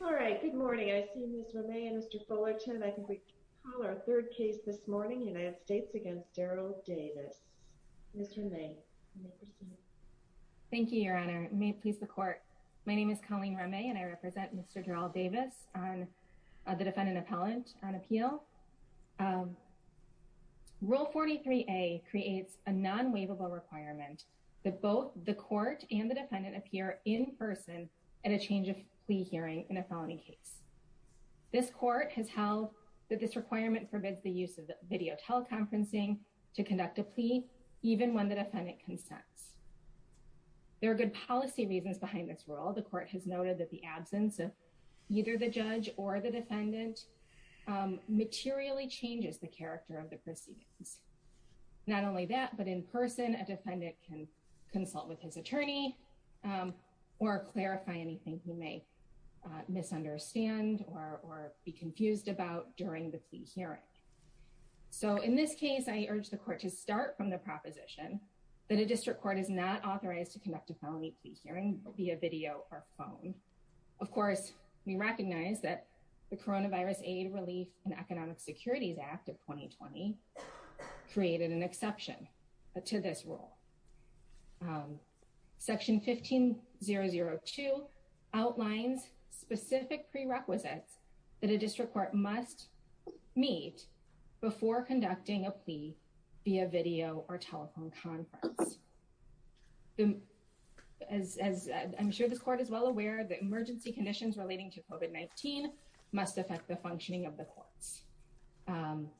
All right. Good morning. I see Ms. Remy and Mr. Fullerton. I think we call our third case this morning, United States v. Darayl Davis. Ms. Remy, you may proceed. Thank you, Your Honor. May it please the Court, my name is Colleen Remy and I represent Mr. Darayl Davis, the defendant appellant on appeal. Rule 43A creates a non-waivable requirement that both the court and the defendant appear in person at a change of plea hearing in a felony case. This Court has held that this requirement forbids the use of video teleconferencing to conduct a plea even when the defendant consents. There are good policy reasons behind this rule. The Court has noted that the absence of either the judge or the defendant materially changes the character of the proceedings. Not only that, but in person a defendant can consult with his attorney or clarify anything he may misunderstand or be confused about during the plea hearing. So in this case, I urge the Court to start from the proposition that a district court is not authorized to conduct a felony plea hearing via video or phone. Of course, we recognize that the Coronavirus Aid, Relief, and Economic Securities Act of 2020 created an exception to this rule. Section 15002 outlines specific prerequisites that a district court must meet before conducting a plea via video or telephone conference. As I'm sure this Court is well aware, the emergency conditions relating to COVID-19 must affect the functioning of the courts.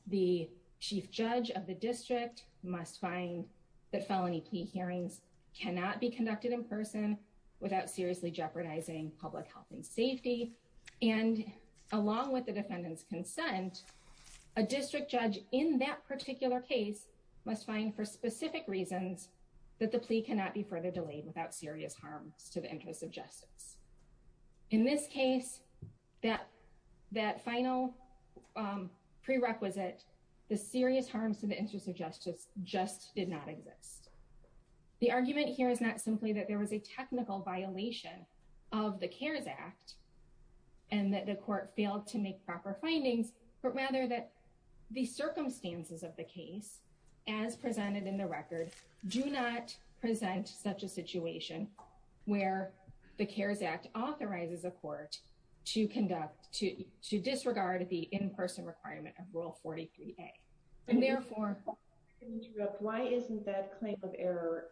The chief judge of the district must find that felony plea hearings cannot be conducted in person without seriously jeopardizing public health and safety. And along with the defendant's consent, a district judge in that particular case must find for specific reasons that the plea cannot be further delayed without serious harms to the interest of justice. In this case, that final prerequisite, the serious harms to the interest of justice, just did not exist. The argument here is not simply that there was a technical violation of the CARES Act and that the Court failed to make proper findings, but rather that the circumstances of the case, as presented in the record, do not present such a situation where the CARES Act authorizes a court to conduct, to disregard the in-person requirement of Rule 43a. And therefore, why isn't that claim of error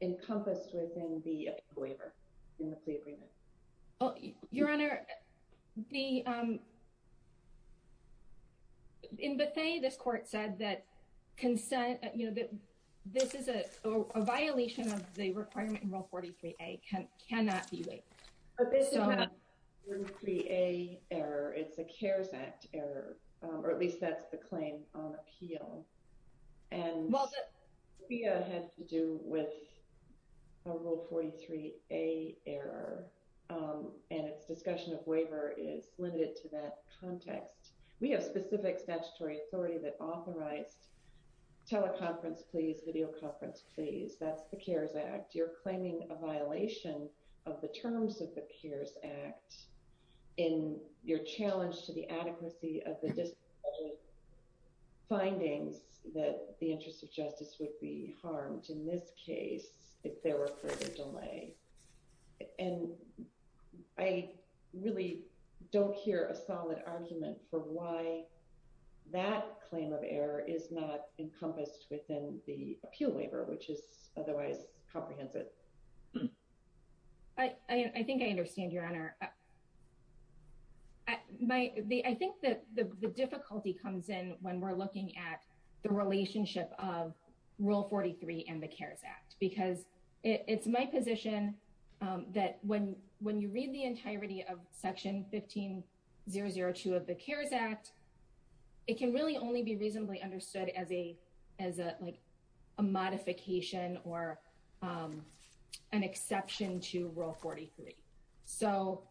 encompassed within the waiver in the plea agreement? Your Honor, in Bethea, this Court said that consent, you know, that this is a violation of the requirement in Rule 43a, cannot be waived. But this is not a Rule 43a error, it's a CARES Act error, or at least that's the claim on appeal. And Bethea had to do with a Rule 43a error, and its discussion of waiver is limited to that context. We have specific statutory authority that authorized teleconference pleas, videoconference pleas, that's the CARES Act. You're claiming a violation of the terms of the CARES Act in your challenge to the adequacy of the findings that the interest of justice would be harmed in this case if there were further delay. And I really don't hear a solid argument for why that claim of error is not encompassed within the appeal waiver, which is otherwise comprehensive. I think I understand, Your Honor. I think that the difficulty comes in when we're looking at the relationship of Rule 43 and the CARES Act, because it's my position that when you read the entirety of Section 15002 of the CARES Act, it can really only be reasonably understood as a modification or an exception to Rule 43. So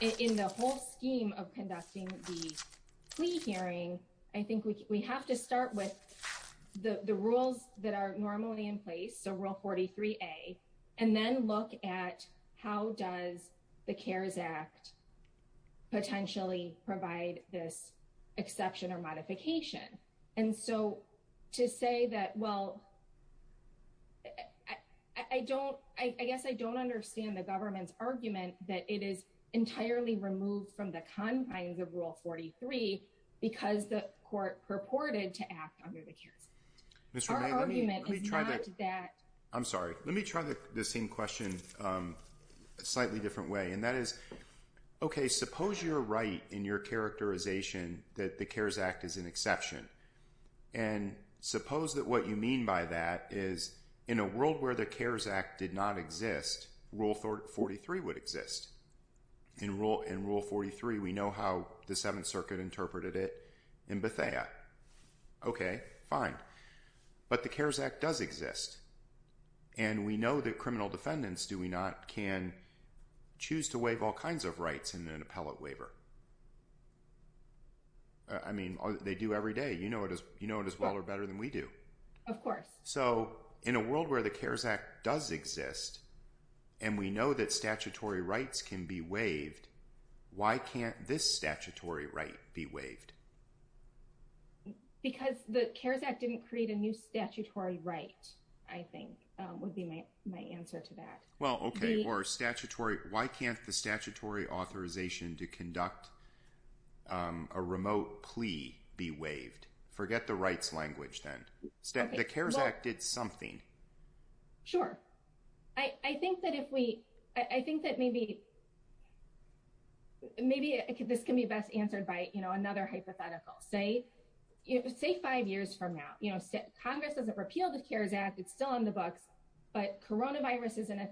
in the whole scheme of conducting the plea hearing, I think we have to start with the rules that are normally in place, so Rule 43a, and then look at how does the CARES Act potentially provide this exception or modification. And so to say that, well, I don't, I guess I don't understand the government's argument that it is entirely removed from the confines of Rule 43 because the court purported to act under the CARES Act. Mr. May, let me try that. I'm sorry. Let me try the same question a slightly different way. And that is, okay, suppose you're right in your characterization that the CARES Act is an exception. And suppose that what you mean by that is in a world where the CARES Act did not exist, Rule 43 would exist. In Rule 43, we know how the Seventh Circuit interpreted it in Bethea. Okay, fine. But the CARES Act does exist. And we know that criminal defendants, do we not, can choose to waive all kinds of rights in an appellate waiver? I mean, they do every day. You know it as well or better than we do. Of course. So in a world where the CARES Act does exist, and we know that statutory rights can be waived, why can't this statutory right be waived? Because the CARES Act didn't create a new statutory right, I think, would be my answer to that. Well, okay. Or statutory, why can't the statutory authorization to conduct a remote plea be waived? Forget the rights language then. The CARES Act did something. Sure. I think that if we, I think that maybe, maybe this can be best answered by, you know, another hypothetical. Say, say five years from now, you know, Congress doesn't repeal the CARES Act, it's still on the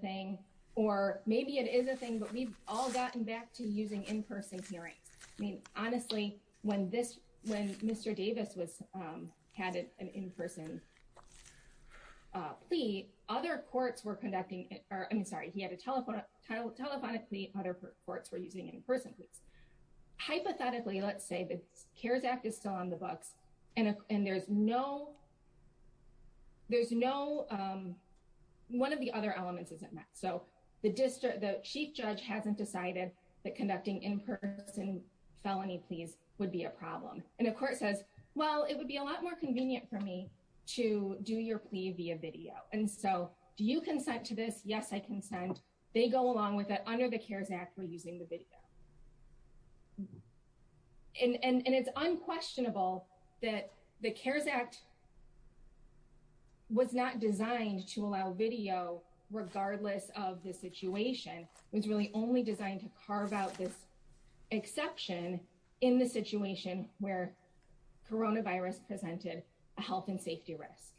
thing. Or maybe it is a thing, but we've all gotten back to using in-person hearings. I mean, honestly, when this, when Mr. Davis was, had an in-person plea, other courts were conducting, or I'm sorry, he had a telephonic plea, other courts were using in-person pleas. Hypothetically, let's say the CARES Act is still on the books, and there's no, there's no, one of the other elements isn't met. So the district, the chief judge hasn't decided that conducting in-person felony pleas would be a problem. And the court says, well, it would be a lot more convenient for me to do your plea via video. And so, do you consent to this? Yes, I consent. They go along with it under the CARES Act, we're using the video. And it's unquestionable that the CARES Act was not designed to allow video, regardless of the situation, was really only designed to carve out this exception in the situation where coronavirus presented a health and safety risk.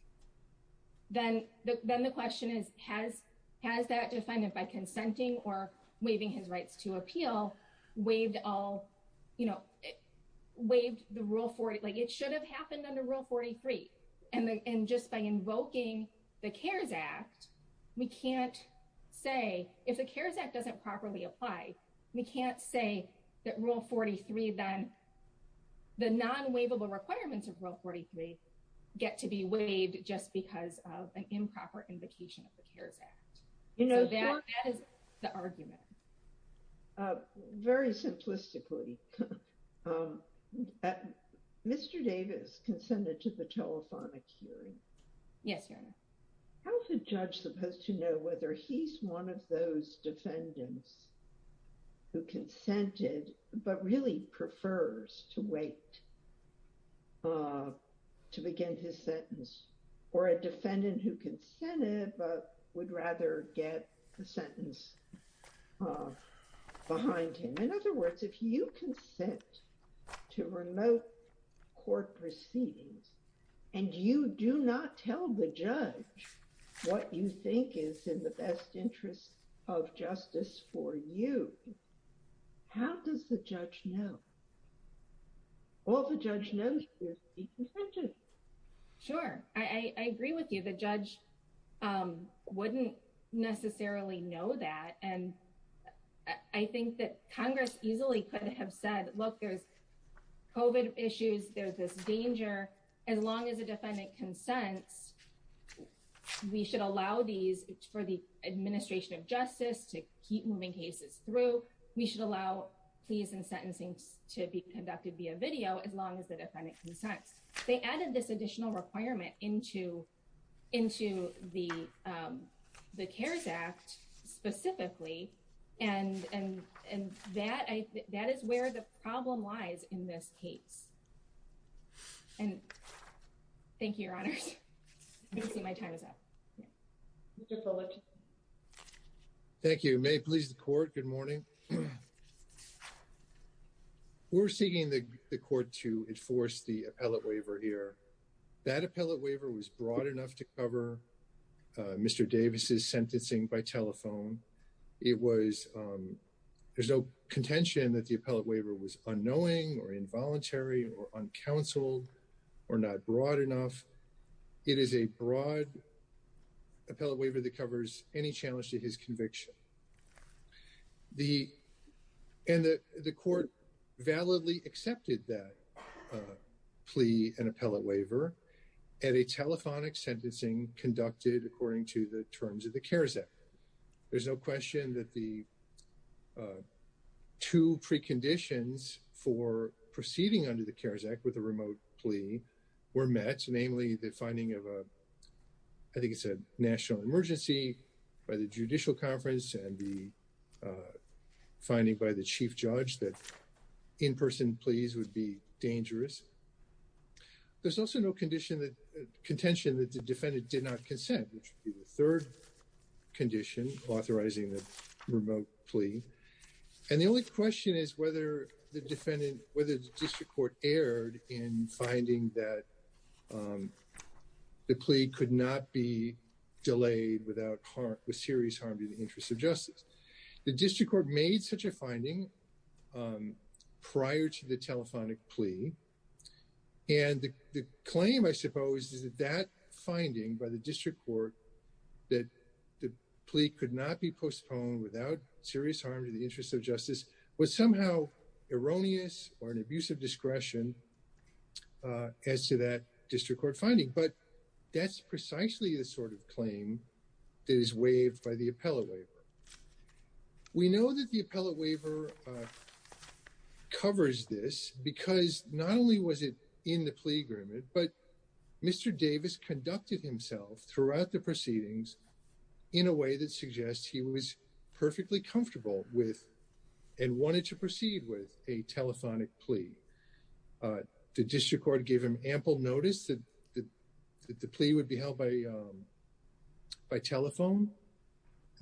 Then the, then the question is, has, has that defendant by consenting or waiving his rights to appeal, waived all, you know, waived the Rule 40, like it should have happened under Rule 43. And, and just by invoking the CARES Act, we can't say, if the CARES Act doesn't properly apply, we can't say that Rule 43 then, the non-waivable requirements of Rule 43 get to be waived just because of an improper invocation of the CARES Act. You know, that is the argument. Very simplistically, Mr. Davis consented to the telephonic hearing. Yes, Your Honor. How's a judge supposed to know whether he's one of those defendants who consented, but really prefers to wait to begin his sentence, or a defendant who consented, but would rather get the sentence behind him? In other words, if you consent to remote court proceedings, and you do not tell the judge what you think is in the best interest of justice for you, how does the judge know? All the judge knows is he consented. Sure, I agree with you. The judge wouldn't necessarily know that. And I think that Congress easily could have said, look, there's COVID issues, there's this danger, as long as the defendant consents, we should allow these for the administration of justice to keep moving cases through, we should allow pleas and sentencing to be conducted via video, as long as the defendant consents. They added this additional requirement into the CARES Act specifically, and that is where the problem lies in this case. And thank you, Your Honors. I can see my time is up. Thank you. May it please the Court, good morning. We're seeking the Court to enforce the appellate waiver here. That appellate waiver was broad enough to cover Mr. Davis's sentencing by telephone. It was, there's no contention that the appellate waiver was unknowing or involuntary or uncounseled or not broad enough. It is a broad appellate waiver that covers any challenge to his conviction. And the Court validly accepted that plea and appellate waiver at a telephonic sentencing conducted according to the terms of the CARES Act. There's no question that the two preconditions for proceeding under the CARES Act with a remote plea were met, namely the finding of a, I think it's a national emergency by the judicial conference and the finding by the chief judge that in-person pleas would be dangerous. There's also no contention that the defendant did not consent, which would be the third condition authorizing the remote plea. And the only question is whether the defendant, whether the district court erred in finding that the plea could not be delayed without harm, with serious harm to the interest of justice. The district court made such a finding prior to the telephonic plea and the claim, I suppose, is that that finding by the district court that the plea could not be postponed without serious harm to the interest of justice was somehow erroneous or an abuse of discretion as to that district court finding. But that's precisely the sort of claim that is waived by the appellate waiver. We know that the appellate waiver covers this because not only was it in the conduct itself throughout the proceedings in a way that suggests he was perfectly comfortable with and wanted to proceed with a telephonic plea, the district court gave him ample notice that the plea would be held by telephone.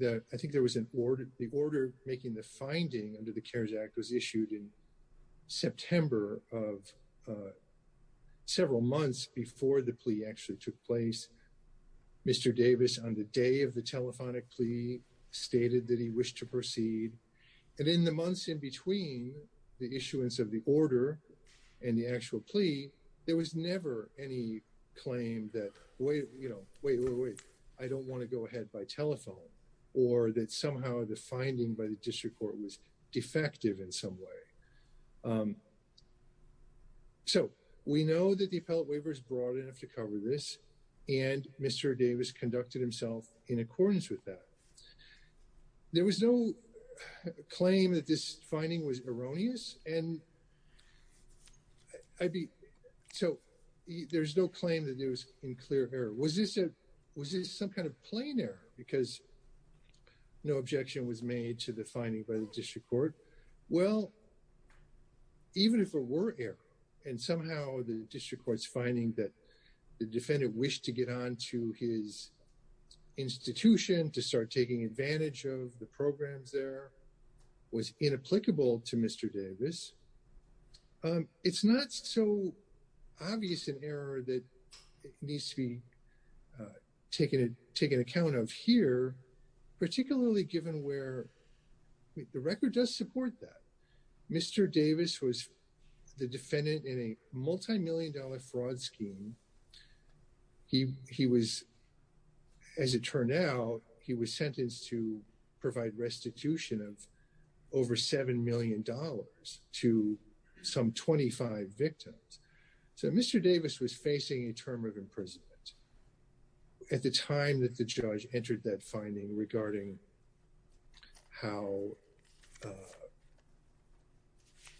I think there was an order, the order making the finding under the CARES Act was issued in September of several months before the plea actually took place. Mr. Davis, on the day of the telephonic plea, stated that he wished to proceed. And in the months in between the issuance of the order and the actual plea, there was never any claim that, wait, you know, wait, wait, wait, I don't want to go ahead by telephone, or that somehow the telephonic plea was not effective in some way. So we know that the appellate waiver is broad enough to cover this, and Mr. Davis conducted himself in accordance with that. There was no claim that this finding was erroneous, and so there's no claim that it was in clear error. Was this some kind of plain error, because no objection was made to the finding by the district court? Well, even if it were error, and somehow the district court's finding that the defendant wished to get on to his institution, to start taking advantage of the programs there, was inapplicable to Mr. Davis. It's not so obvious an error that needs to be taken account of here, particularly given where the record does support that. Mr. Davis was the defendant in a multimillion-dollar fraud scheme. He was, as it turned out, he was sentenced to provide restitution of over seven million dollars to some 25 victims. So Mr. Davis was facing a term of imprisonment at the time that the judge entered that finding regarding how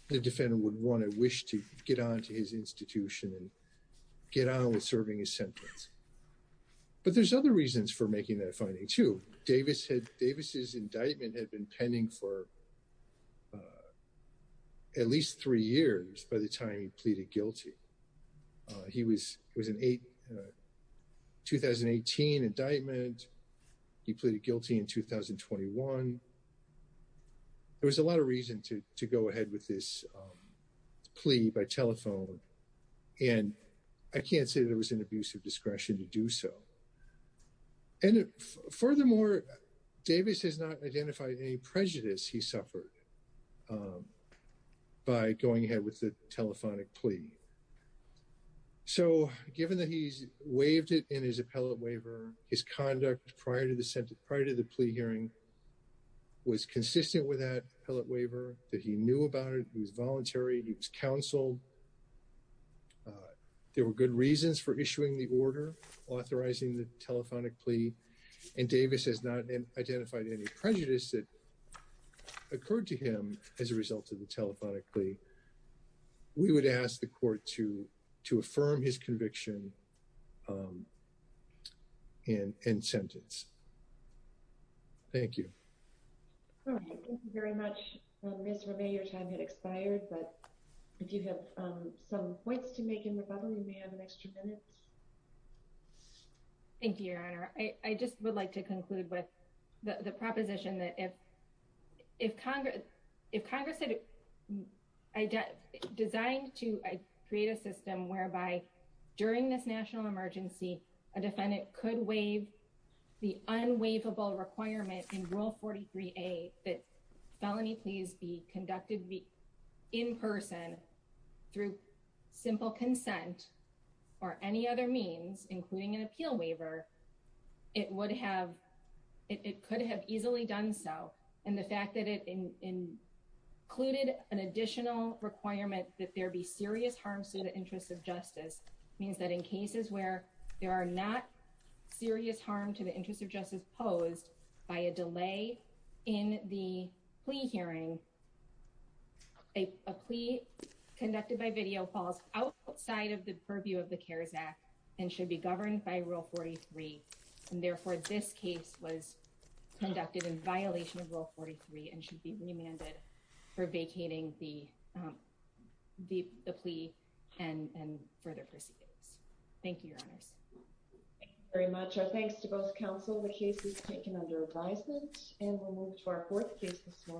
the defendant would want to wish to get on to his institution, and so there was no reason to go ahead with this plea by telephone, and I can't say there was an abuse of discretion to do so. And furthermore, Davis has not identified any prejudice he suffered by going ahead with the telephonic plea. So given that he's waived it in his appellate waiver, his conduct prior to the plea hearing was consistent with that waiver, that he knew about it, he was voluntary, he was counseled, there were good reasons for issuing the order authorizing the telephonic plea, and Davis has not identified any prejudice that occurred to him as a result of the telephonic plea, we would ask the court to affirm his conviction and sentence. Thank you. All right, thank you very much. Ms. Ramay, your time had expired, but if you have some points to make in rebuttal, you may have an extra minute. Thank you, Your Honor. I just would like to conclude with the proposition that if Congress designed to create a system whereby during this national emergency a defendant could waive the unwaivable requirement in Rule 43A that felony pleas be conducted in person through simple consent or any other means, including an appeal waiver, it could have easily done so. And the fact that it included an additional requirement that there be serious harm to the interests of justice means that in cases where there are not serious harm to the interests of justice posed by a delay in the plea hearing, a plea conducted by video falls outside of the purview of the CARES Act and should be governed by Rule 43, and therefore this case was conducted in violation of Rule 43 and should be remanded for vacating the plea and further proceedings. Thank you, Your Honors. Thank you very much. Our thanks to both counsel. The case was taken under advisement and we'll move to our fourth case this morning.